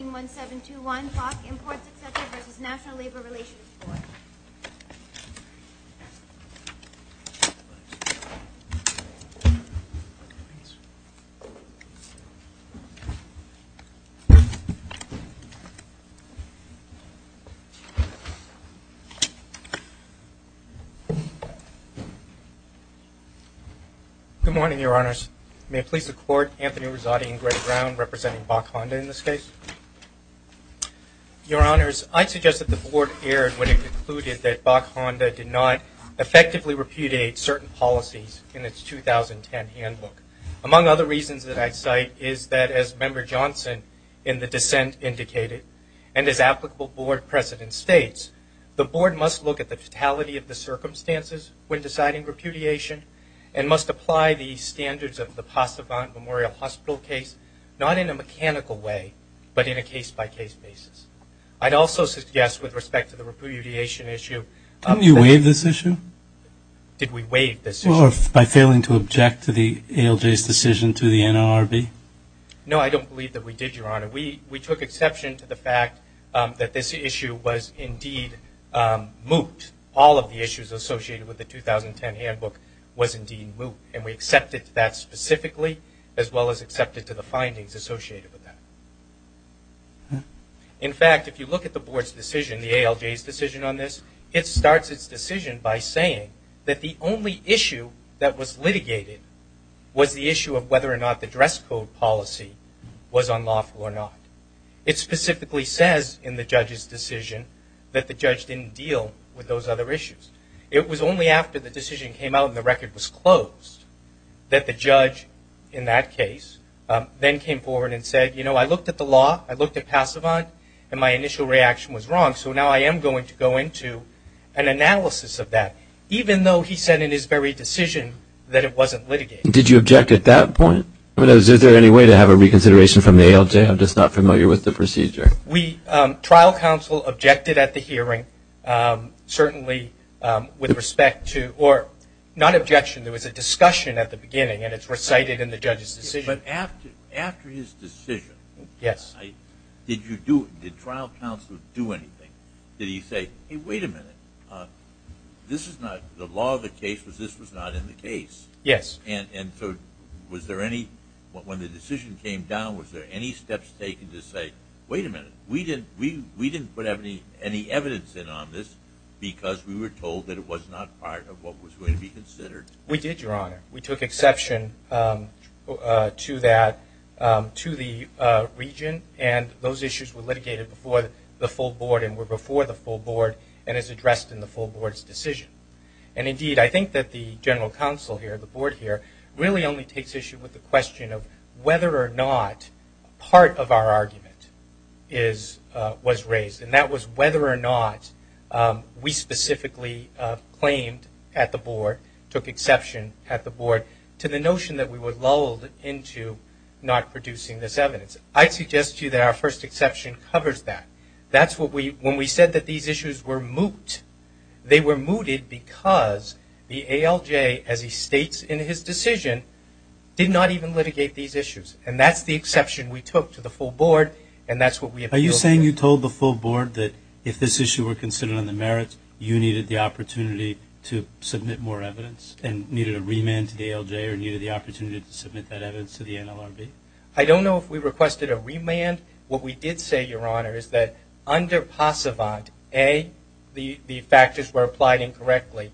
181721, Boch Imports, etc. v. NLRB Good morning, Your Honors. May it please the Court, Anthony Rizzotti and Greg Brown representing Boch Honda in this case? Your Honors, I'd suggest that the Board erred when it concluded that Boch Honda did not effectively repudiate certain policies in its 2010 handbook. Among other reasons that I cite is that, as Member Johnson in the dissent indicated, and as applicable Board precedent states, the Board must look at the fatality of the circumstances when deciding repudiation apply the standards of the Passevant Memorial Hospital case, not in a mechanical way, but in a case-by-case basis. I'd also suggest, with respect to the repudiation issue Didn't you waive this issue? Did we waive this issue? Well, by failing to object to the ALJ's decision to the NLRB? No, I don't believe that we did, Your Honor. We took exception to the fact that this issue was indeed moot. All of the issues associated with the 2010 handbook was indeed moot, and we accepted that specifically, as well as accepted to the findings associated with that. In fact, if you look at the Board's decision, the ALJ's decision on this, it starts its decision by saying that the only issue that was litigated was the issue of whether or not the dress code policy was unlawful or not. It specifically says in the judge's decision that the judge didn't deal with those other issues. It was only after the decision came out and the record was closed that the judge, in that case, then came forward and said, you know, I looked at the law, I looked at Passevant, and my initial reaction was wrong, so now I am going to go into an analysis of that, even though he said in his very decision that it wasn't litigated. Did you object at that point? I don't know, is there any way to have a reconsideration from the ALJ? I'm just not familiar with the procedure. We, trial counsel, objected at the hearing, certainly with respect to, or not objection, there was a discussion at the beginning, and it's recited in the judge's decision. But after his decision, did you do, did trial counsel do anything? Did he say, hey, wait a minute, this is not, the law of the case was this was not in the case. Yes. And so was there any, when the decision came down, was there any steps taken to say, wait a minute, we didn't put any evidence in on this because we were told that it was not part of what was going to be considered? We did, Your Honor. We took exception to that, to the region, and those issues were litigated before the full board and were before the full board, and as addressed in the full board's decision. And indeed, I think that the general counsel here, the board here, really only takes issue with the question of whether or not part of our argument is, was raised, and that was whether or not we specifically claimed at the board, took exception at the board to the notion that we were lulled into not producing this evidence. I suggest to you that our first exception covers that. That's what we, when we said that these issues were moot, they were mooted because the ALJ, as he states in his decision, did not even litigate these issues, and that's the exception we took to the full board, and that's what we appealed to. Are you saying you told the full board that if this issue were considered on the merits, you needed the opportunity to submit more evidence, and needed a remand to the ALJ, or needed the opportunity to submit that evidence to the NLRB? I don't know if we requested a remand. What we did say, Your Honor, is that under Passevant, A, the factors were applied incorrectly,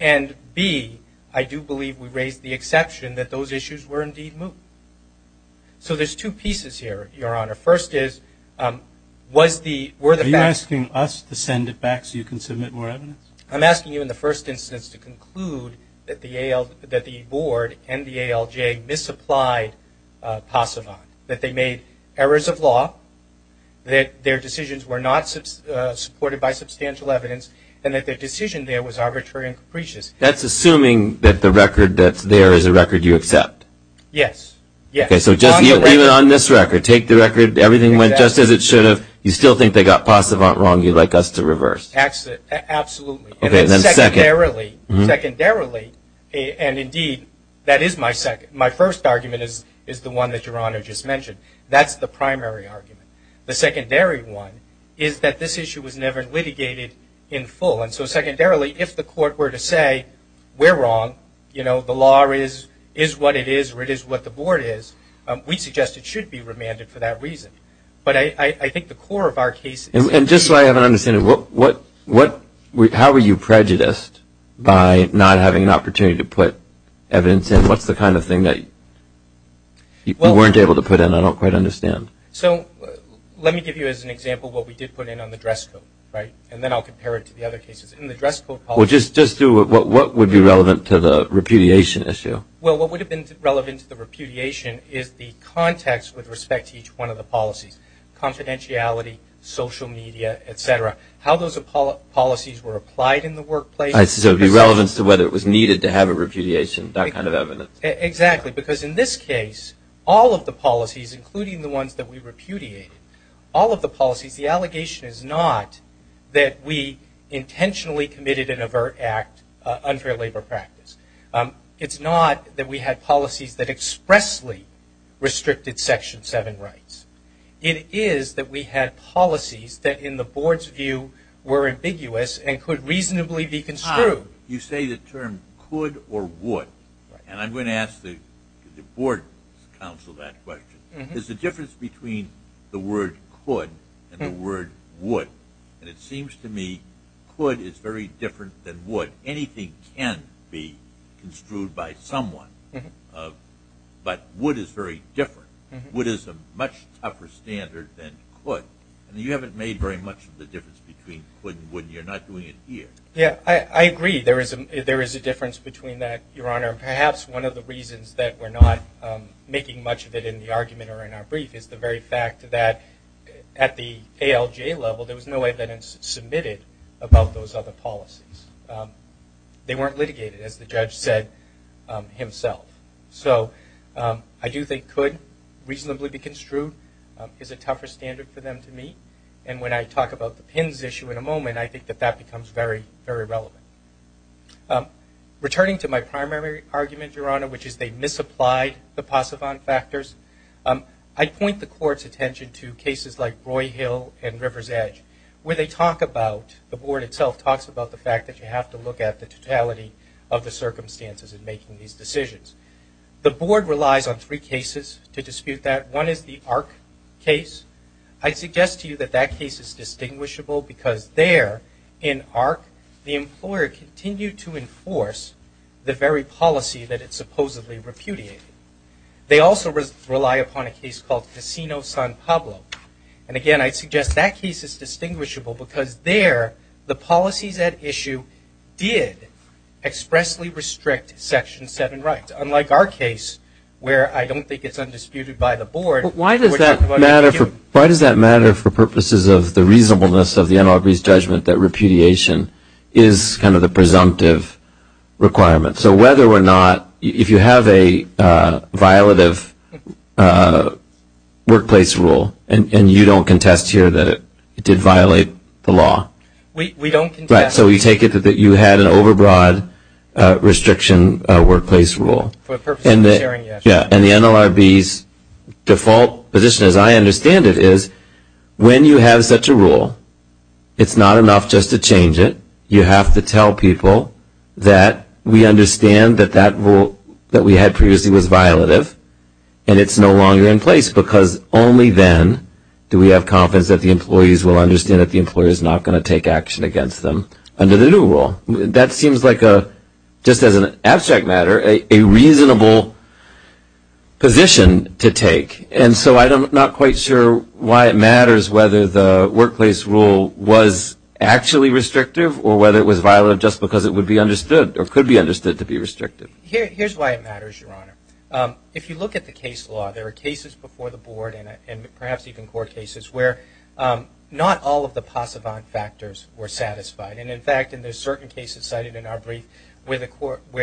and B, I do believe we raised the exception that those issues were indeed moot. So there's two pieces here, Your Honor. First is, was the, were the facts... Are you asking us to send it back so you can submit more evidence? I'm asking you in the first instance to conclude that the AL, that the board and the ALJ misapplied Passevant, that they made errors of law, that their decisions were not supported by substantial evidence, and that their decision there was arbitrary and capricious. That's assuming that the record that's there is a record you accept? Yes. Yes. Okay, so just even on this record, take the record, everything went just as it should have, you still think they got Passevant wrong, you'd like us to reverse? Absolutely. Okay, then second... ...is the one that Your Honor just mentioned. That's the primary argument. The secondary one is that this issue was never litigated in full, and so secondarily, if the court were to say, we're wrong, you know, the law is what it is, or it is what the board is, we suggest it should be remanded for that reason. But I think the core of our case is... And just so I have an understanding, what, what, how were you prejudiced by not having an opportunity to put evidence in? What's the kind of thing that you weren't able to put in? I don't quite understand. So let me give you as an example what we did put in on the dress code, right? And then I'll compare it to the other cases. In the dress code... Well, just, just do what, what would be relevant to the repudiation issue? Well, what would have been relevant to the repudiation is the context with respect to each one of the policies. Confidentiality, social media, et cetera. How those policies were applied in the workplace... So it would be relevant to whether it was needed to have a repudiation, that kind of evidence. Exactly. Because in this case, all of the policies, including the ones that we repudiated, all of the policies, the allegation is not that we intentionally committed an overt act unfair labor practice. It's not that we had policies that expressly restricted Section 7 rights. It is that we had policies that, in the board's view, were ambiguous and could reasonably be construed. You say the term could or would. And I'm going to ask the board counsel that question. Is the difference between the word could and the word would? And it seems to me could is very different than would. Anything can be construed by someone. But would is very different. Would is a much tougher standard than could. And you haven't made very much of the difference between could and would. You're not doing it here. Yeah. I agree. There is a difference between that, Your Honor. Perhaps one of the reasons that we're not making much of it in the argument or in our brief is the very fact that at the ALJ level, there was no evidence submitted about those other policies. They weren't litigated, as the judge said himself. So I do think could reasonably be construed is a tougher standard for them to meet. And when I talk about the PINs issue in a moment, I think that that becomes very, very relevant. Returning to my primary argument, Your Honor, which is they misapplied the PASAVON factors, I point the court's attention to cases like Roy Hill and River's Edge, where they talk about, the board itself talks about the fact that you have to look at the totality of the circumstances in making these decisions. The board relies on three cases to dispute that. One is the ARC case. I suggest to you that that case is distinguishable because there, in ARC, the employer continued to enforce the very policy that it supposedly repudiated. They also rely upon a case called Casino San Pablo. And again, I suggest that case is distinguishable because there, the policies at issue did expressly restrict Section 7 rights. Unlike our case, where I don't think it's undisputed by the board. Why does that matter for purposes of the reasonableness of the NLRB's judgment that repudiation is kind of the presumptive requirement? So whether or not, if you have a violative workplace rule, and you don't contest here that it did violate the law? We don't contest. Right. So you take it that you had an overbroad restriction workplace rule. For the purpose of sharing, yes. And the NLRB's default position, as I understand it, is when you have such a rule, it's not enough just to change it. You have to tell people that we understand that that rule that we had previously was violative and it's no longer in place because only then do we have confidence that the employees will understand that the employer is not going to take action against them under the new rule. That seems like, just as an abstract matter, a reasonable position to take. And so I'm not quite sure why it matters whether the workplace rule was actually restrictive or whether it was violative just because it would be understood or could be understood to be restrictive. Here's why it matters, Your Honor. If you look at the case law, there are cases before the board and perhaps even court cases where not all of the pass-avant factors were satisfied. And in fact, in the certain cases cited in our brief where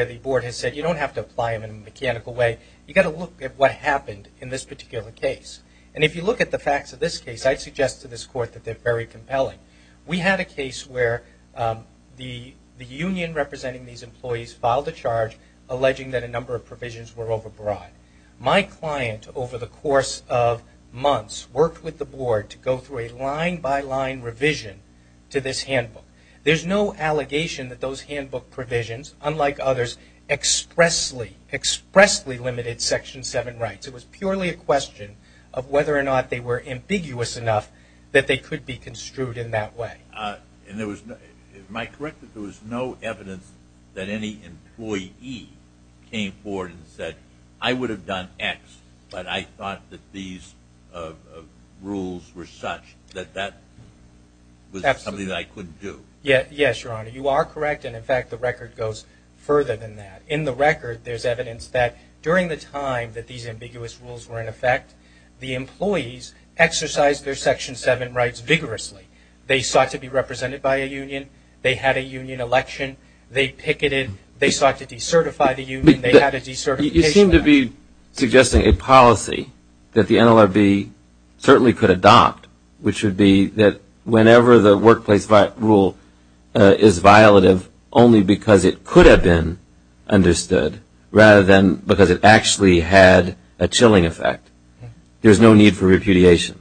the board has said you don't have to apply them in a mechanical way, you've got to look at what happened in this particular case. And if you look at the facts of this case, I'd suggest to this court that they're very compelling. We had a case where the union representing these employees filed a charge alleging that a number of provisions were overbroad. My client, over the course of months, worked with the board to go through a line-by-line revision to this handbook. There's no allegation that those handbook provisions, unlike others, expressly limited Section 7 rights. It was purely a question of whether or not they were ambiguous enough that they could be construed in that way. Am I correct that there was no evidence that any employee came forward and said, I would have done X, but I thought that these rules were such that that was something I couldn't do? Yes, Your Honor. You are correct. And in fact, the record goes further than that. In the record, there's evidence that during the time that these ambiguous rules were in effect, the employees exercised their Section 7 rights vigorously. They sought to be represented by a union. They had a union election. They picketed. They sought to decertify the union. They had a decertification. Your Honor, you seem to be suggesting a policy that the NLRB certainly could adopt, which would be that whenever the workplace rule is violative only because it could have been understood rather than because it actually had a chilling effect, there's no need for repudiation.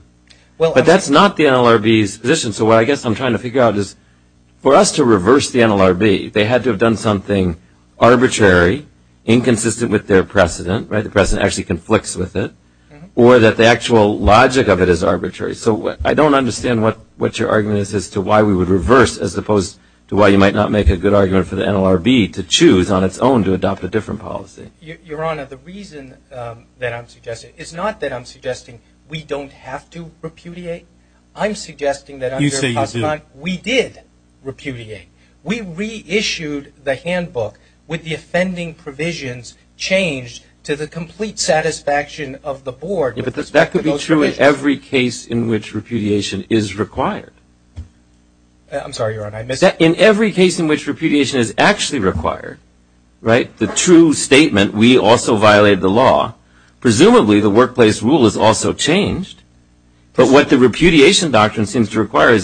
But that's not the NLRB's position. So what I guess I'm trying to figure out is for us to reverse the NLRB, they had to have done something arbitrary, inconsistent with their precedent. The precedent actually conflicts with it. Or that the actual logic of it is arbitrary. So I don't understand what your argument is as to why we would reverse as opposed to why you might not make a good argument for the NLRB to choose on its own to adopt a different policy. Your Honor, the reason that I'm suggesting, it's not that I'm suggesting we don't have to repudiate. I'm suggesting that under PASCONT, we did repudiate. We reissued the handbook with the offending provisions changed to the complete satisfaction of the board with respect to those provisions. But that could be true in every case in which repudiation is required. I'm sorry, Your Honor, I missed that. In every case in which repudiation is actually required, right, the true statement, we also violated the law, presumably the workplace rule is also changed. But what the repudiation is required. I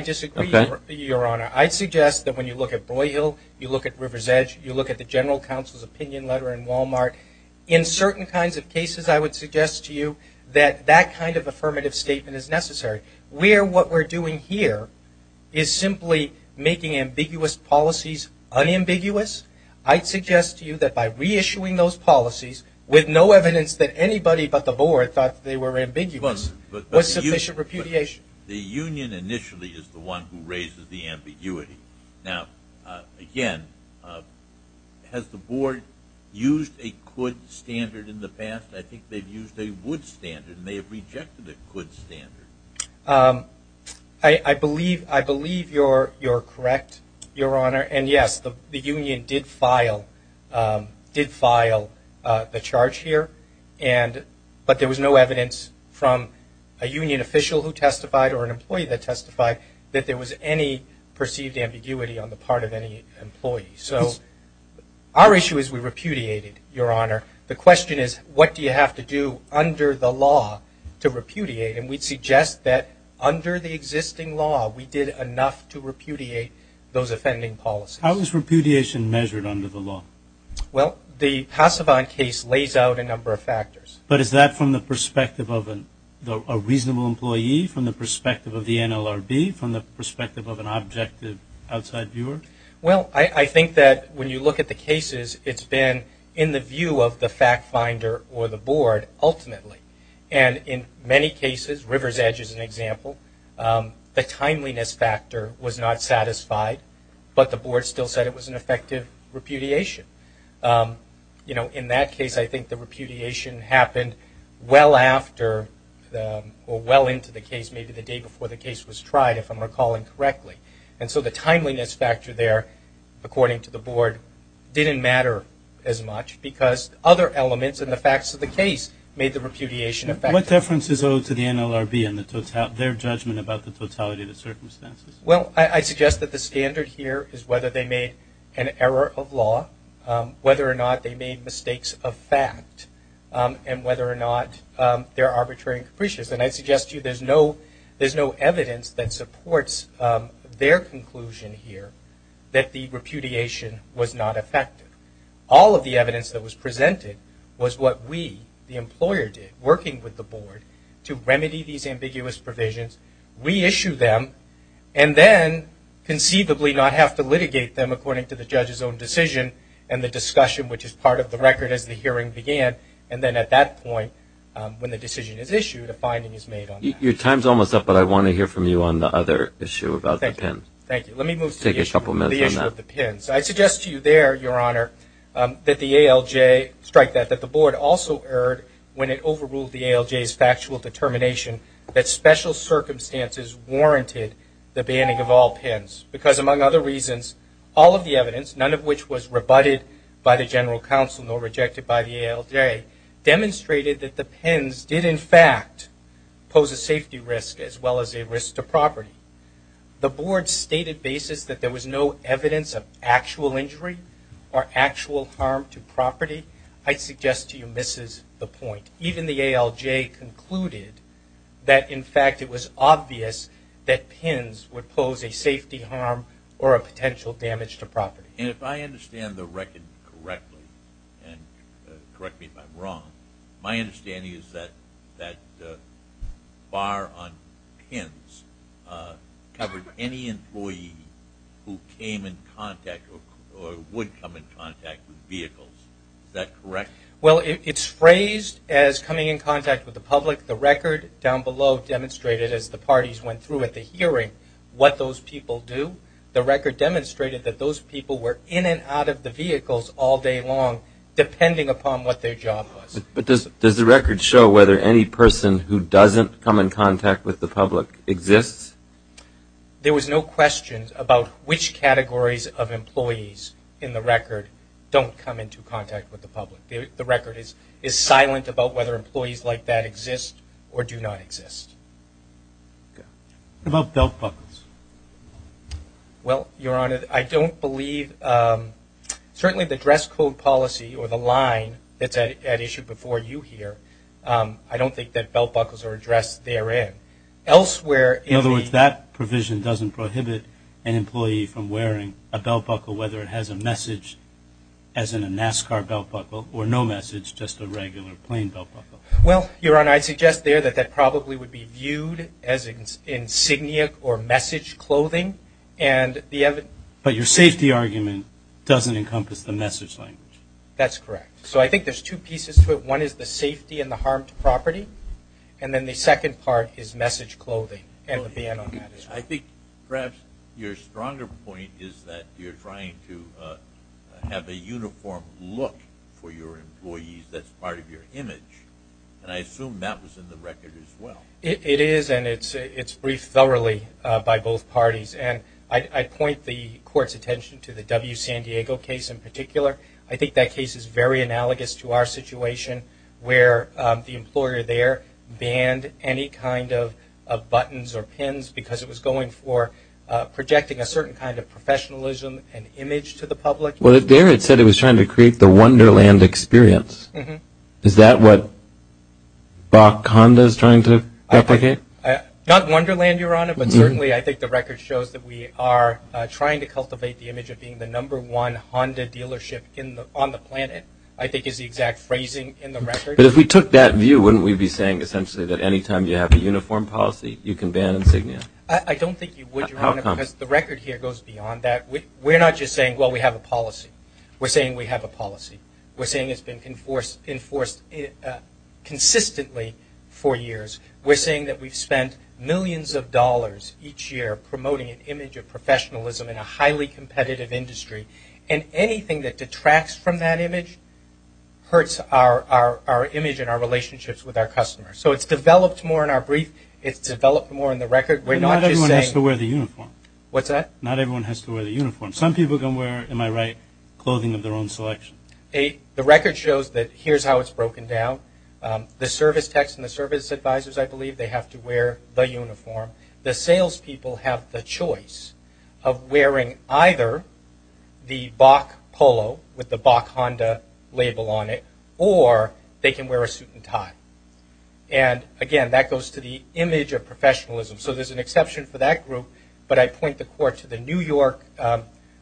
disagree, Your Honor. I suggest that when you look at Boyle, you look at River's Edge, you look at the general counsel's opinion letter in Walmart, in certain kinds of cases I would suggest to you that that kind of affirmative statement is necessary. Where what we're doing here is simply making ambiguous policies unambiguous, I'd suggest to you that by reissuing those policies with no evidence that anybody but the board thought they were ambiguous was sufficient repudiation. The union initially is the one who raises the ambiguity. Now, again, has the board used a could standard in the past? I think they've used a would standard and they have rejected a could standard. I believe you're correct, Your Honor. And yes, the union did file the charge here, but there was no evidence from a union official who testified or an employee that testified that there was any perceived ambiguity on the part of any employee. So our issue is we repudiated, Your Honor. The question is, what do you have to do under the law to repudiate? And we'd suggest that under the existing law, we did enough to repudiate those offending policies. How is repudiation measured under the law? But is that from the perspective of a reasonable employee, from the perspective of the NLRB, from the perspective of an objective outside viewer? Well, I think that when you look at the cases, it's been in the view of the fact finder or the board ultimately. And in many cases, River's Edge is an example, the timeliness factor was not satisfied, but the board still said it was an effective repudiation. In that case, it happened well after or well into the case, maybe the day before the case was tried, if I'm recalling correctly. And so the timeliness factor there, according to the board, didn't matter as much because other elements and the facts of the case made the repudiation effective. What difference is owed to the NLRB and their judgment about the totality of the circumstances? Well, I suggest that the standard here is whether they made an error of law, whether or not they made mistakes of fact, and whether or not they're arbitrary and capricious. And I suggest to you there's no evidence that supports their conclusion here that the repudiation was not effective. All of the evidence that was presented was what we, the employer, did working with the board to remedy these ambiguous provisions, reissue them, and then conceivably not have to litigate them according to the judge's own decision and the discussion which is part of the record as the hearing began. And then at that point, when the decision is issued, a finding is made on that. Your time's almost up, but I want to hear from you on the other issue about the PIN. Thank you. Let me move to the issue of the PIN. So I suggest to you there, Your Honor, that the ALJ strike that, that the board also erred when it overruled the ALJ's factual determination that special circumstances warranted the banning of all PINs. Because among other reasons, all of the evidence, none of which was rebutted by the general counsel nor rejected by the ALJ, demonstrated that the PINs did in fact pose a safety risk as well as a risk to property. The board stated basis that there was no evidence of actual injury or actual harm to property. I suggest to you this is the point. Even the ALJ concluded that in fact it was obvious that PINs would pose a safety harm or a potential damage to property. And if I understand the record correctly, and correct me if I'm wrong, my understanding is that the bar on PINs covered any employee who came in contact or would come in contact with vehicles. Is that correct? Well, it's phrased as coming in contact with the public. The record down below demonstrated as the parties went through at the hearing what those people do. The record demonstrated that those people were in and out of the vehicles all day long, depending upon what their job was. But does the record show whether any person who doesn't come in contact with the public exists? There was no question about which categories of employees in the record don't come into contact with the public. The record is silent about whether employees like that exist or do not exist. About belt buckles? Well, Your Honor, I don't believe, certainly the dress code policy or the line that's at issue before you here, I don't think that belt buckles are addressed therein. Elsewhere in the In other words, that provision doesn't prohibit an employee from wearing a belt buckle whether it has a message, as in a NASCAR belt buckle, or no message, just a regular plain belt buckle. Well, Your Honor, I suggest there that that probably would be viewed as insignia or message clothing. But your safety argument doesn't encompass the message language. That's correct. So I think there's two pieces to it. One is the safety and the harm to property. And then the second part is message clothing and the ban on that issue. I think perhaps your stronger point is that you're trying to have a uniform look for your employees that's part of your image. And I assume that was in the record as well. It is, and it's briefed thoroughly by both parties. And I point the Court's attention to the W. San Diego case in particular. I think that case is very analogous to our situation where the employer there banned any kind of buttons or pins because it was going for projecting a certain kind of professionalism and image to the public. Well, there it said it was trying to create the Wonderland experience. Is that what BAC Honda is trying to replicate? Not Wonderland, Your Honor, but certainly I think the record shows that we are trying to cultivate the image of being the number one Honda dealership on the planet, I think is the exact phrasing in the record. But if we took that view, wouldn't we be saying essentially that any time you have a uniform policy, you can ban insignia? I don't think you would, Your Honor, because the record here goes beyond that. We're not just saying, well, we have a policy. We're saying we have a policy. We're saying it's been enforced consistently for years. We're saying that we've spent millions of dollars each year promoting an image of professionalism in a highly competitive industry. And anything that detracts from that image hurts our image and our relationships with our customers. So it's developed more in our brief. It's developed more in the record. We're not just saying... But not everyone has to wear the uniform. What's that? Not everyone has to wear the uniform. Some people can wear, am I right, clothing of their own selection. The record shows that here's how it's broken down. The service techs and the service advisors, I believe, they have to wear the uniform. The salespeople have the choice of wearing either the BAC polo with the BAC Honda label on it, or they can wear a suit and tie. And again, that goes to the image of professionalism. So there's an exception for that group, but I point the court to the New York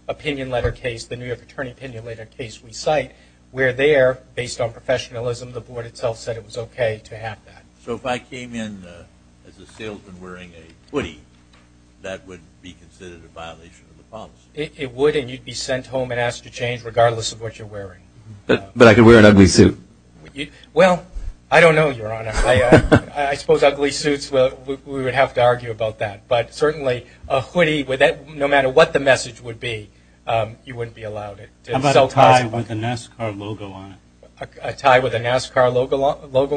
opinion letter case, the New York attorney opinion letter case we cite, where there, based on professionalism, the board itself said it was okay to have that. So if I came in as a salesman wearing a hoodie, that would be considered a violation of the policy? It would, and you'd be sent home and asked to change regardless of what you're wearing. But I could wear an ugly suit. Well, I don't know, Your Honor. I suppose ugly suits, we would have to argue about that. But certainly a hoodie, no matter what the message would be, you wouldn't be allowed it. How about a tie with a NASCAR logo on it? A tie with a NASCAR logo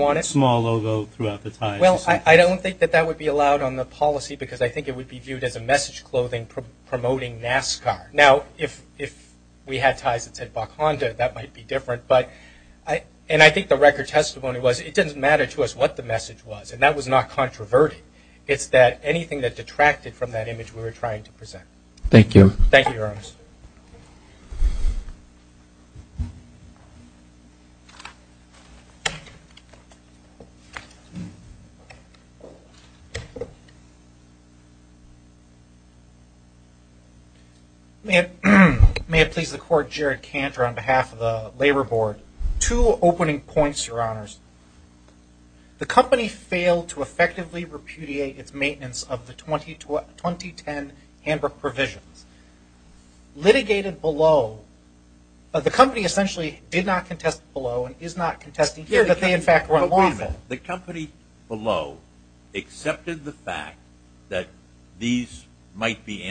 on it? Well, I don't think that that would be allowed on the policy, because I think it would be viewed as a message clothing promoting NASCAR. Now, if we had ties that said BAC Honda, that might be different. And I think the record testimony was, it doesn't matter to us what the message was, and that was not controverted. It's that anything that detracted from that image we were trying to present. Thank you. Thank you, Your Honor. May it please the Court, Jared Cantor on behalf of the Labor Board. Two opening points, Your Honors. The company failed to effectively repudiate its maintenance of the 2010 Hamburg provisions. Litigated below, the company essentially did not contest below and is not contesting here that they in fact were unlawful. The company below accepted the fact that these might be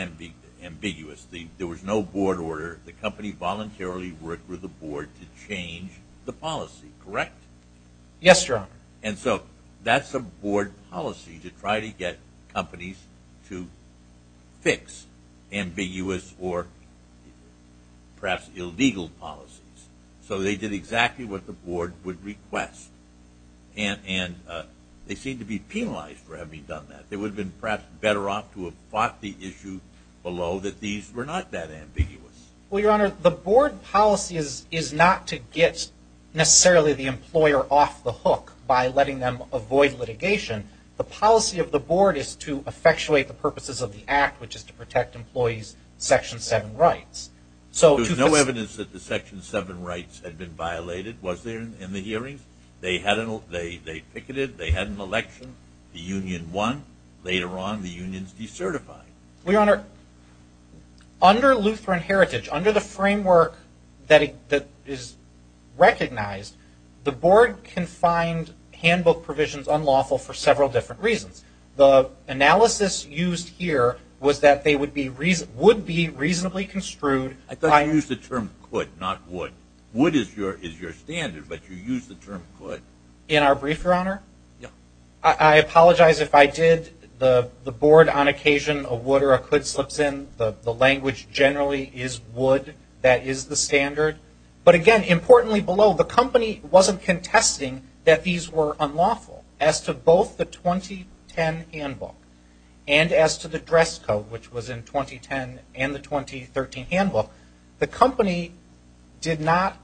ambiguous. There was no board order. The company voluntarily worked with the board to change the policy, correct? Yes, Your Honor. And so that's a board policy to try to get companies to fix ambiguous or perhaps illegal policies. So they did exactly what the board would request. And they seem to be penalized for having done that. They would have been perhaps better off to have fought the issue below that these were not that ambiguous. Well, Your Honor, the board policy is not to get necessarily the employer off the hook by letting them avoid litigation. The policy of the board is to effectuate the purposes of the act, which is to protect employees' Section 7 rights. There's no evidence that the Section 7 rights had been violated, was there, in the hearings? They picketed. They had an election. The union won. Later on, the unions decertified. Under Lutheran Heritage, under the framework that is recognized, the board can find handbook provisions unlawful for several different reasons. The analysis used here was that they would be reasonably construed by... I thought you used the term could, not would. Would is your standard, but you used the term could. In our brief, Your Honor? Yeah. I apologize if I did the board on occasion a would or a could slips in. The language generally is would. That is the standard. But again, importantly below, the company wasn't contesting that these were unlawful as to both the 2010 handbook and as to the 2013 handbook. The company did not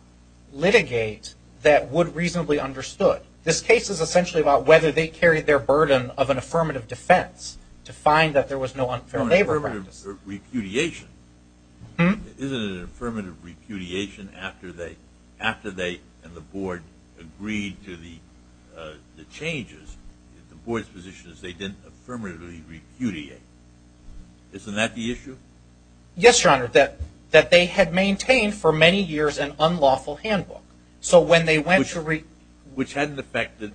litigate that would reasonably understood. This case is essentially about whether they carried their burden of an affirmative defense to find that there was no unfair labor practice. No, an affirmative repudiation. Isn't it an affirmative repudiation after they and the board agreed to the changes? The board's position is they didn't affirmatively repudiate. Isn't that the issue? Yes, Your Honor. That they had maintained for many years an unlawful handbook. So when they went to... Which hadn't affected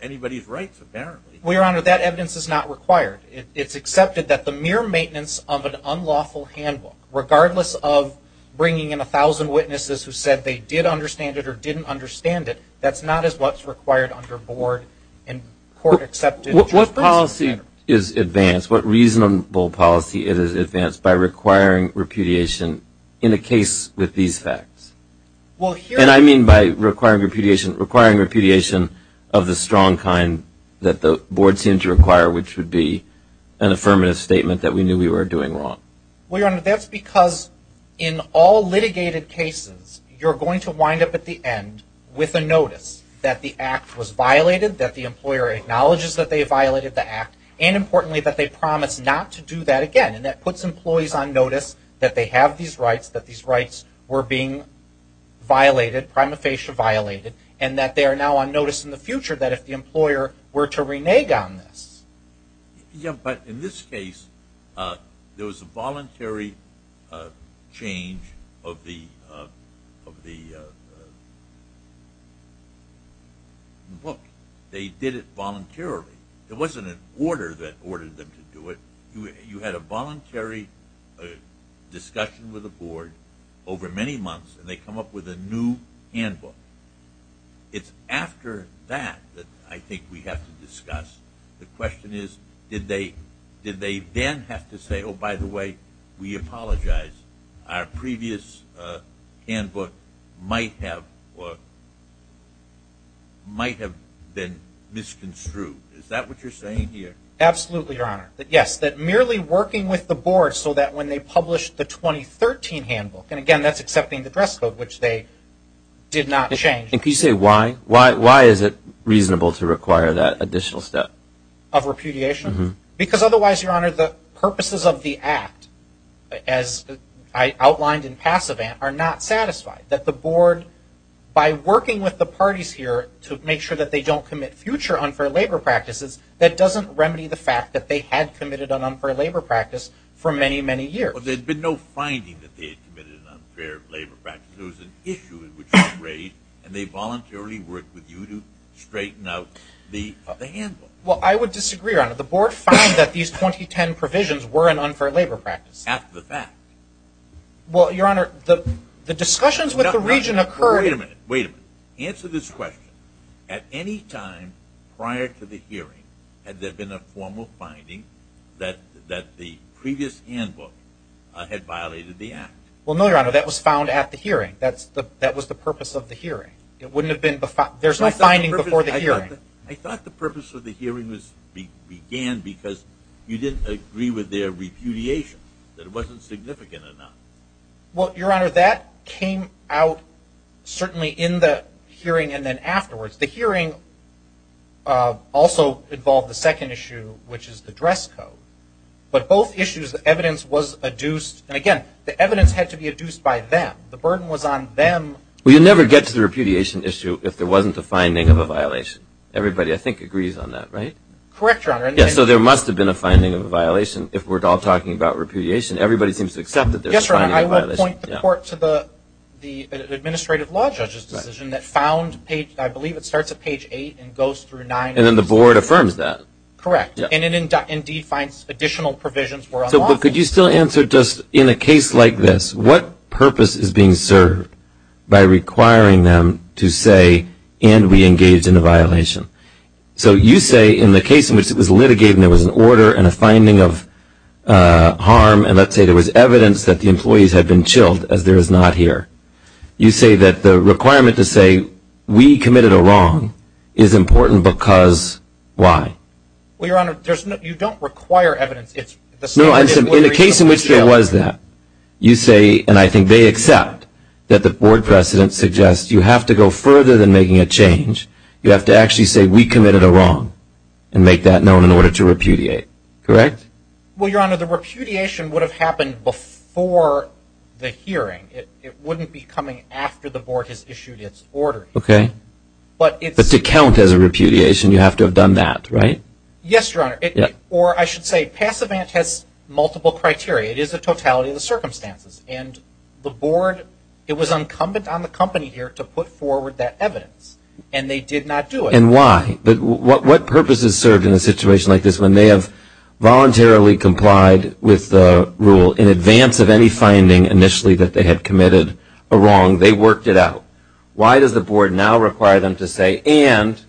anybody's rights, apparently. We are honored. That evidence is not required. It's accepted that the mere maintenance of an unlawful handbook, regardless of bringing in a thousand witnesses who said they did understand it or didn't understand it, that's not as what's required under board and court accepted. What policy is advanced, what reasonable policy is advanced by requiring repudiation in a case with these facts? And I mean by requiring repudiation, requiring repudiation of the strong kind that the board seemed to require, which would be an affirmative statement that we knew we were doing wrong. Well, Your Honor, that's because in all litigated cases, you're going to wind up at the end with a notice that the act was violated, that the employer acknowledges that they violated the act, and importantly that they promise not to do that again. And that puts employees on notice that they have these rights, that these rights were being violated, prima facie violated, and that they are now on notice in the future that if the employer were to renege on this. Yeah, but in this case, there was a voluntary change of the... Look, they did it voluntarily. It wasn't an order that ordered them to do it. You had a voluntary discussion with the board over many months, and they come up with a new handbook. It's after that that I think we have to discuss. The question is, did they then have to say, by the way, we apologize, our previous handbook might have been misconstrued. Is that what you're saying here? Absolutely, Your Honor. Yes, that merely working with the board so that when they published the 2013 handbook, and again, that's accepting the dress code, which they did not change. If you say why, why is it reasonable to require that additional step? Of repudiation? Because otherwise, Your Honor, the purposes of the act, as I outlined in Passivant, are not satisfied. That the board, by working with the parties here to make sure that they don't commit future unfair labor practices, that doesn't remedy the fact that they had committed an unfair labor practice for many, many years. But there had been no finding that they had committed an unfair labor practice. There was an issue which was raised, and they voluntarily worked with you to straighten out the handbook. Well, I would disagree, Your Honor. The board found that these 2010 provisions were an unfair labor practice. After the fact. Well, Your Honor, the discussions with the region occurred... No, no, wait a minute. Wait a minute. Answer this question. At any time prior to the hearing, had there been a formal finding that the previous handbook had violated the act? Well, no, Your Honor, that was found at the hearing. That was the purpose of the hearing. It wouldn't have been... There's no finding before the hearing. I thought the purpose of the hearing began because you didn't agree with their repudiation, that it wasn't significant enough. Well, Your Honor, that came out certainly in the hearing and then afterwards. The hearing also involved the second issue, which is the dress code. But both issues, the evidence was adduced. And again, the evidence had to be adduced by them. The burden was on them. Well, you never get to the repudiation issue if there wasn't a finding of a violation. Everybody, I think, agrees on that, right? Correct, Your Honor. Yes, so there must have been a finding of a violation. If we're all talking about repudiation, everybody seems to accept that there's a finding of a violation. Yes, Your Honor, I will point the court to the administrative law judge's decision that found page... I believe it starts at page 8 and goes through 9... And then the board affirms that. Correct. And it indeed finds additional provisions were unlawful. But could you still answer just, in a case like this, what purpose is being served by requiring them to say, and we engaged in a violation? So you say, in the case in which it was litigated and there was an order and a finding of harm, and let's say there was evidence that the employees had been chilled, as there is not here. You say that the requirement to say, we committed a wrong, is important because why? Well, Your Honor, you don't require evidence, it's the same as whether you committed a wrong. In the case in which there was that, you say, and I think they accept, that the board precedent suggests you have to go further than making a change. You have to actually say, we committed a wrong, and make that known in order to repudiate. Correct? Well, Your Honor, the repudiation would have happened before the hearing. It wouldn't be coming after the board has issued its order. Okay, but to count as a repudiation, you have to have done that, right? Yes, Your Honor, or I should say, Passivant has multiple criteria. It is the totality of the circumstances, and the board, it was incumbent on the company here to put forward that evidence, and they did not do it. And why? What purposes serve in a situation like this, when they have voluntarily complied with the rule in advance of any finding initially that they had committed a wrong, they worked it out? Why does the board now require them to say, and,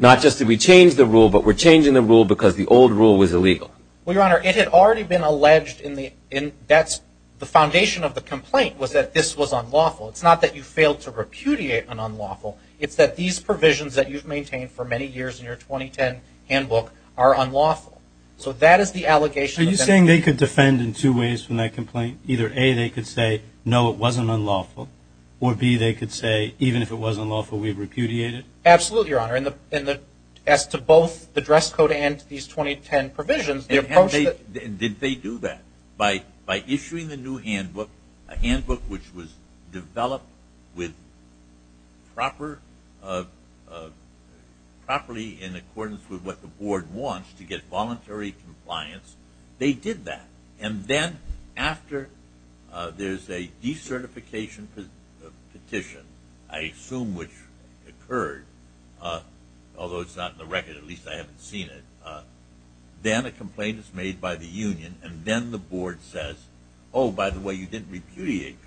not just that we changed the rule, but we're changing the rule because the old rule was illegal? Well, Your Honor, it had already been alleged in the, that's the foundation of the complaint, was that this was unlawful. It's not that you failed to repudiate an unlawful. It's that these provisions that you've maintained for many years in your 2010 handbook are unlawful. So that is the allegation. Are you saying they could defend in two ways from that complaint? Either A, they could say, no, it wasn't unlawful, or B, they could say, even if it wasn't unlawful, we've repudiated? Absolutely, Your Honor. And the, as to both the dress code and these 2010 provisions, the approach that And how did they, did they do that? By, by issuing the new handbook, a handbook which was developed with proper, properly in accordance with what the board wants to get voluntary compliance, they did that. And then after there's a decertification petition, I assume which occurred, although it's not in the record, at least I haven't seen it, then a complaint is made by the union, and then the board says, oh, by the way, you didn't repudiate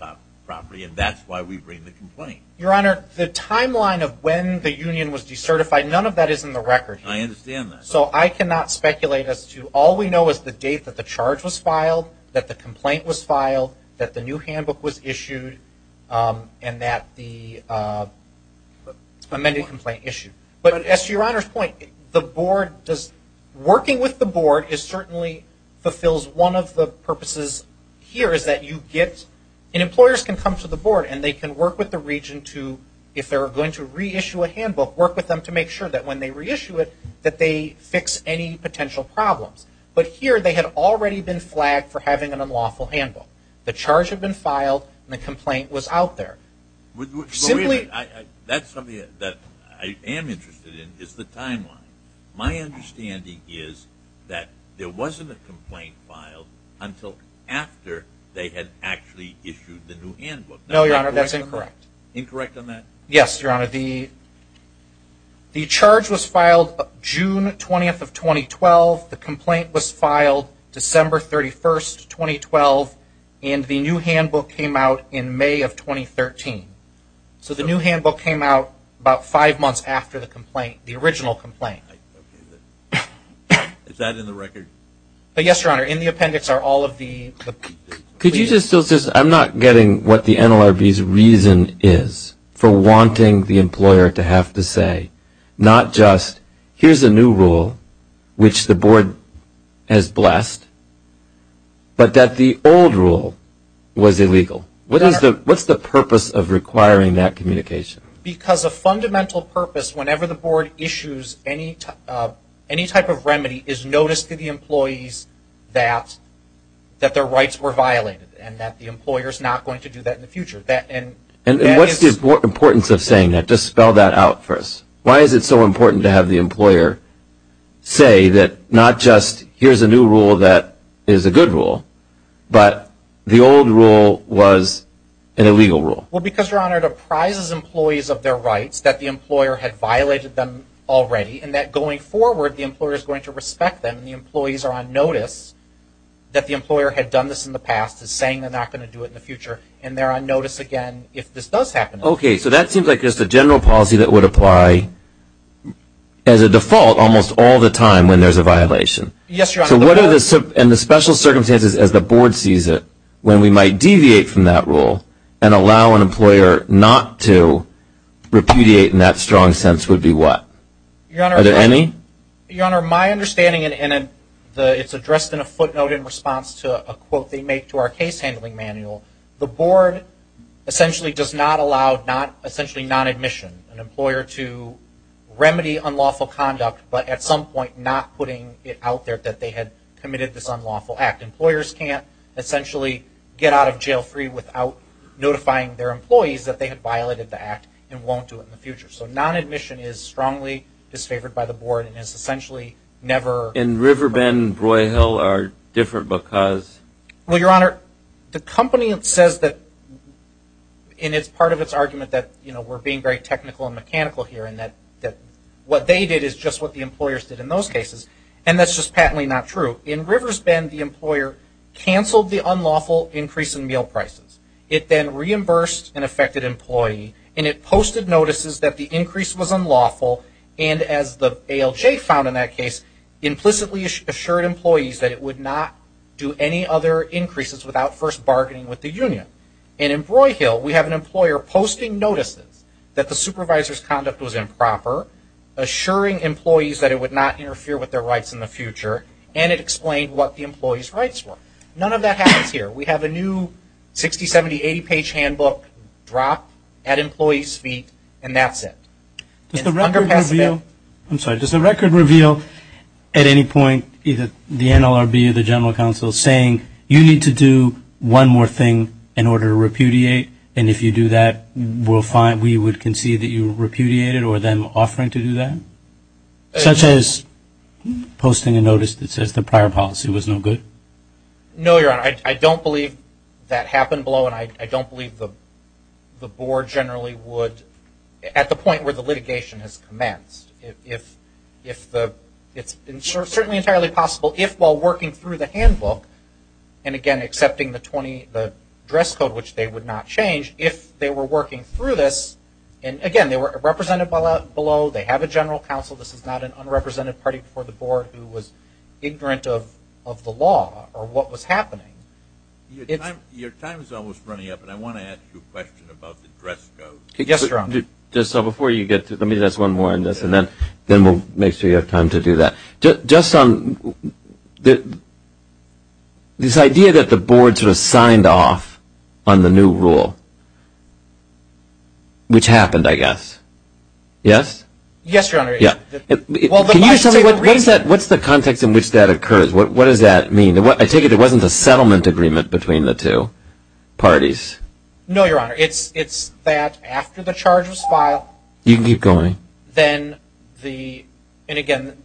properly, and that's why we bring the complaint. Your Honor, the timeline of when the union was decertified, none of that is in the record here. I understand that. So I cannot speculate as to, all we know is the date that the charge was filed, that the complaint was filed, that the new handbook was issued, and that the amended complaint issued. But as to Your Honor's point, the board does, working with the board is certainly, fulfills one of the purposes here is that you get, and employers can come to the board and they can work with the regent to, if they're going to reissue a handbook, work with them to make sure that they fix any potential problems. But here they had already been flagged for having an unlawful handbook. The charge had been filed, and the complaint was out there. Simply- That's something that I am interested in, is the timeline. My understanding is that there wasn't a complaint filed until after they had actually issued the new handbook. No, Your Honor, that's incorrect. Incorrect on that? Yes, Your Honor. The charge was filed June 20th of 2012, the complaint was filed December 31st, 2012, and the new handbook came out in May of 2013. So the new handbook came out about five months after the complaint, the original complaint. Is that in the record? Yes, Your Honor, in the appendix are all of the- Could you just, I'm not getting what the NLRB's reason is for wanting the employer to have to say, not just, here's a new rule, which the board has blessed, but that the old rule was illegal. What's the purpose of requiring that communication? Because a fundamental purpose, whenever the board issues any type of remedy, is notice to the employees that their rights were violated, and that the employer's not going to do that in the future. And what's the importance of saying that? Just spell that out for us. Why is it so important to have the employer say that, not just, here's a new rule that is a good rule, but the old rule was an illegal rule? Well, because, Your Honor, it apprises employees of their rights that the employer had violated them already, and that going forward, the employer is going to respect them, and the employees are on notice that the employer had done this in the past, is saying they're not going to do it in the future, and they're on notice again if this does happen. Okay, so that seems like just a general policy that would apply as a default almost all the time when there's a violation. Yes, Your Honor. So what are the special circumstances as the board sees it, when we might deviate from that rule, and allow an employer not to repudiate in that strong sense, would be what? Your Honor. Are there any? Your Honor, my understanding, and it's addressed in a footnote in response to a quote they make to our case handling manual, the board essentially does not allow, essentially non-admission an employer to remedy unlawful conduct, but at some point not putting it out there that they had committed this unlawful act. Employers can't essentially get out of jail free without notifying their employees that they had violated the act, and won't do it in the future. So non-admission is strongly disfavored by the board, and is essentially never. And Riverbend, Broyhill are different because? Well, Your Honor, the company that says that, and it's part of its argument that we're being very technical and mechanical here, and that what they did is just what the employers did in those cases, and that's just patently not true. In Riverbend, the employer canceled the unlawful increase in meal prices. It then reimbursed an affected employee, and it posted notices that the increase was unlawful, and as the ALJ found in that case, implicitly assured employees that it would not do any other increases without first bargaining with the union. And in Broyhill, we have an employer posting notices that the supervisor's conduct was improper, assuring employees that it would not interfere with their rights in the future, and it explained what the employee's rights were. None of that happens here. We have a new 60, 70, 80 page handbook dropped at employee's feet, and that's it. Does the record reveal, I'm sorry, does the record reveal at any point, either the NLRB or the general counsel saying, you need to do one more thing in order to repudiate, and if you do that, we would concede that you repudiated, or them offering to do that? Such as posting a notice that says the prior policy was no good? No, your honor, I don't believe that happened below, and I don't believe the board generally would, at the point where the litigation has commenced, if the, it's certainly entirely possible, if while working through the handbook, and again, accepting the 20, the dress code, which they would not change, if they were working through this, and again, they were counsel, this is not an unrepresented party before the board who was ignorant of the law, or what was happening. Your time is almost running up, and I want to ask you a question about the dress code. Yes, your honor. Just so before you get to, let me ask one more on this, and then we'll make sure you have time to do that. This idea that the board sort of signed off on the new rule, which happened, I guess. Yes? Yes, your honor. What's the context in which that occurs? What does that mean? I take it it wasn't a settlement agreement between the two parties? No, your honor, it's that after the charge was filed. You can keep going. Then the, and again,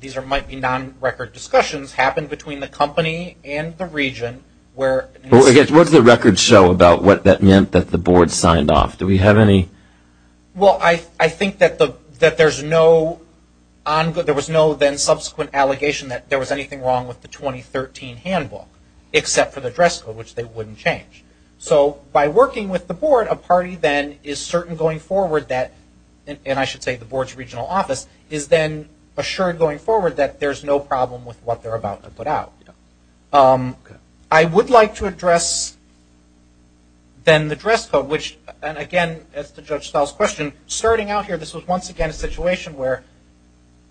these might be non-record discussions, happened between the company and the region, where. What does the record show about what that meant that the board signed off? Do we have any? Well, I think that there's no, there was no then subsequent allegation that there was anything wrong with the 2013 handbook, except for the dress code, which they wouldn't change. So by working with the board, a party then is certain going forward that, and I should say the board's regional office, is then assured going forward that there's no problem with what they're about to put out. Okay. I would like to address then the dress code, which, and again, as to Judge Stahl's question, starting out here, this was once again a situation where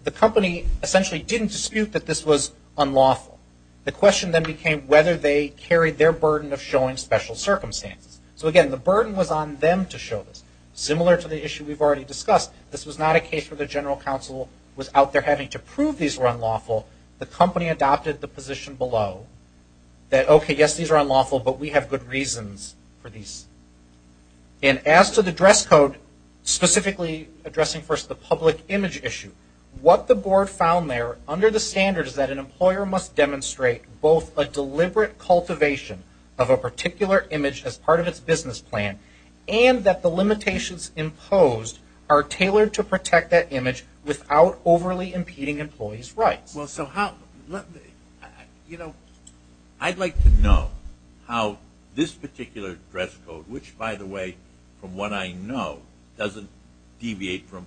the company essentially didn't dispute that this was unlawful. The question then became whether they carried their burden of showing special circumstances. So again, the burden was on them to show this. Similar to the issue we've already discussed, this was not a case where the general counsel was out there having to prove these were unlawful. The company adopted the position below that, okay, yes, these are unlawful, but we have good reasons for these. And as to the dress code, specifically addressing first the public image issue, what the board found there, under the standards that an employer must demonstrate both a deliberate cultivation of a particular image as part of its business plan, and that the limitations imposed are tailored to protect that image without overly impeding employees' rights. Well, so how, let me, you know. I'd like to know how this particular dress code, which, by the way, from what I know, doesn't deviate from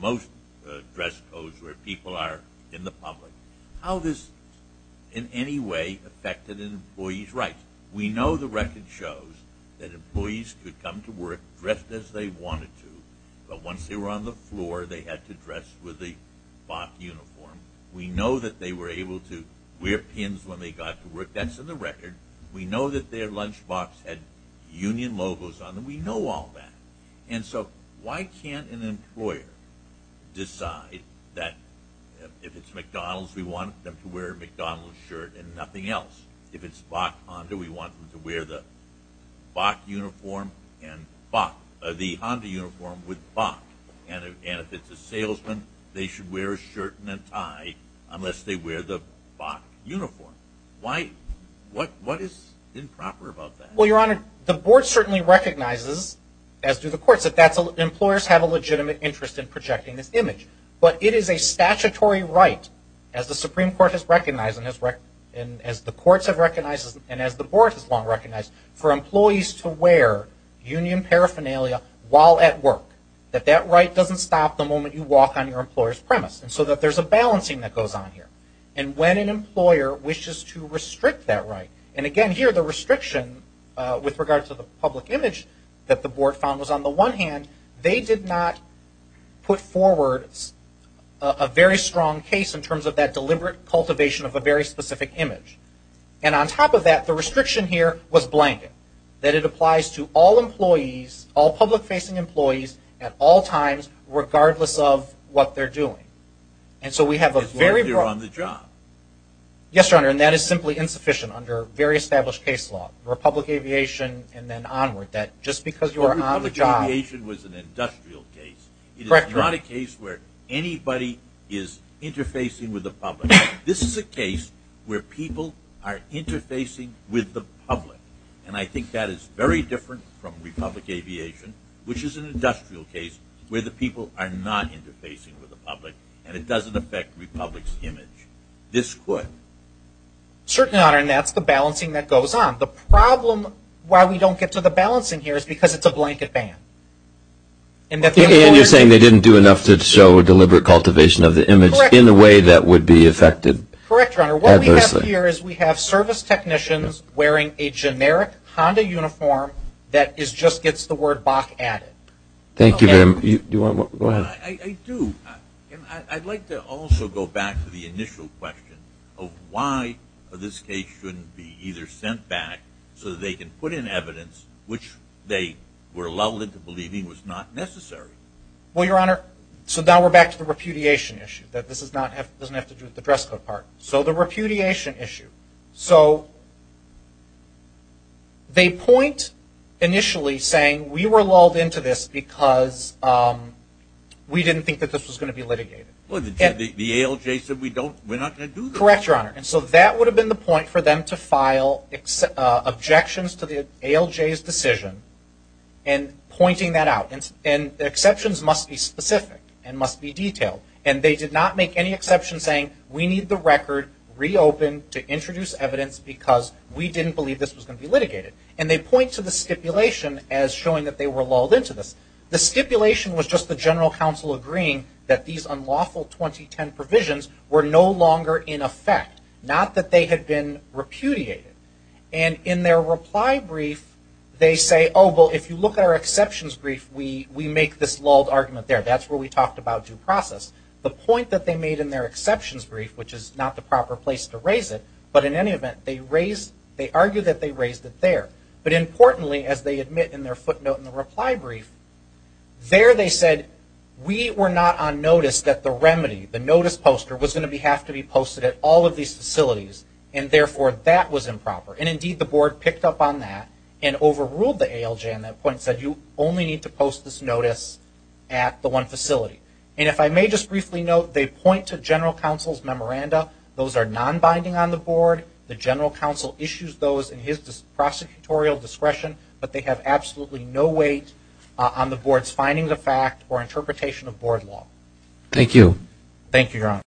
most dress codes where people are in the public, how this in any way affected an employee's rights. We know the record shows that employees could come to work dressed as they wanted to, but once they were on the floor, they had to dress with the BOP uniform. We know that they were able to wear pins when they got to work. That's in the record. We know that their lunchbox had union logos on them. We know all that. And so why can't an employer decide that if it's McDonald's, we want them to wear a McDonald's shirt and nothing else? If it's BAC Honda, we want them to wear the BAC uniform and BAC, the Honda uniform with BAC. And if it's a salesman, they should wear a shirt and a tie unless they wear the BAC uniform. Why, what is improper about that? Well, Your Honor, the board certainly recognizes, as do the courts, that employers have a legitimate interest in projecting this image. But it is a statutory right, as the Supreme Court has recognized and as the courts have recognized and as the board has long recognized, for employees to wear union paraphernalia while at work. That that right doesn't stop the moment you walk on your employer's premise. And so that there's a balancing that goes on here. And when an employer wishes to restrict that right, and again here the restriction with regard to the public image that the board found was on the one hand, they did not put forward a very strong case in terms of that deliberate cultivation of a very specific image. And on top of that, the restriction here was blanket. That it applies to all employees, all public-facing employees, at all times, regardless of what they're doing. And so we have a very broad- It's very clear on the job. Yes, Your Honor, and that is simply insufficient under very established case law. Republic Aviation and then onward. That just because you are on the job- Republic Aviation was an industrial case. Correct, Your Honor. It is not a case where anybody is interfacing with the public. This is a case where people are interfacing with the public. And I think that is very different from Republic Aviation, which is an industrial case where the people are not interfacing with the public. And it doesn't affect Republic's image. This could. Certainly, Your Honor, and that's the balancing that goes on. The problem why we don't get to the balancing here is because it's a blanket ban. And that's- And you're saying they didn't do enough to show deliberate cultivation of the image in a way that would be affected adversely. Correct, Your Honor. What we have here is we have service technicians wearing a generic Honda uniform that just gets the word Bach added. Thank you, ma'am. Do you want to go ahead? I do. I'd like to also go back to the initial question of why this case shouldn't be either sent back so that they can put in evidence which they were lulled into believing was not necessary. Well, Your Honor, so now we're back to the repudiation issue, that this doesn't have to do with the dress code part. So the repudiation issue. So they point initially saying we were lulled into this because we didn't think that this was going to be litigated. Well, the ALJ said we're not going to do that. Correct, Your Honor. And so that would have been the point for them to file objections to the ALJ's decision and pointing that out. And the exceptions must be specific and must be detailed. And they did not make any exception saying we need the record reopened to introduce evidence because we didn't believe this was going to be litigated. And they point to the stipulation as showing that they were lulled into this. The stipulation was just the general counsel agreeing that these unlawful 2010 provisions were no longer in effect, not that they had been repudiated. And in their reply brief, they say, oh, well, if you look at our exceptions brief, we make this lulled argument there. That's where we talked about due process. The point that they made in their exceptions brief, which is not the proper place to raise it, but in any event, they argue that they raised it there. But importantly, as they admit in their footnote in the reply brief, there they said we were not on notice that the remedy, the notice poster was going to have to be posted at all of these facilities and therefore that was improper. And indeed, the board picked up on that and overruled the ALJ on that point and said you only need to post this notice at the one facility. And if I may just briefly note, they point to general counsel's memoranda. Those are non-binding on the board. The general counsel issues those in his prosecutorial discretion, but they have absolutely no weight on the board's finding the fact or interpretation of board law. Thank you. Thank you, Your Honor.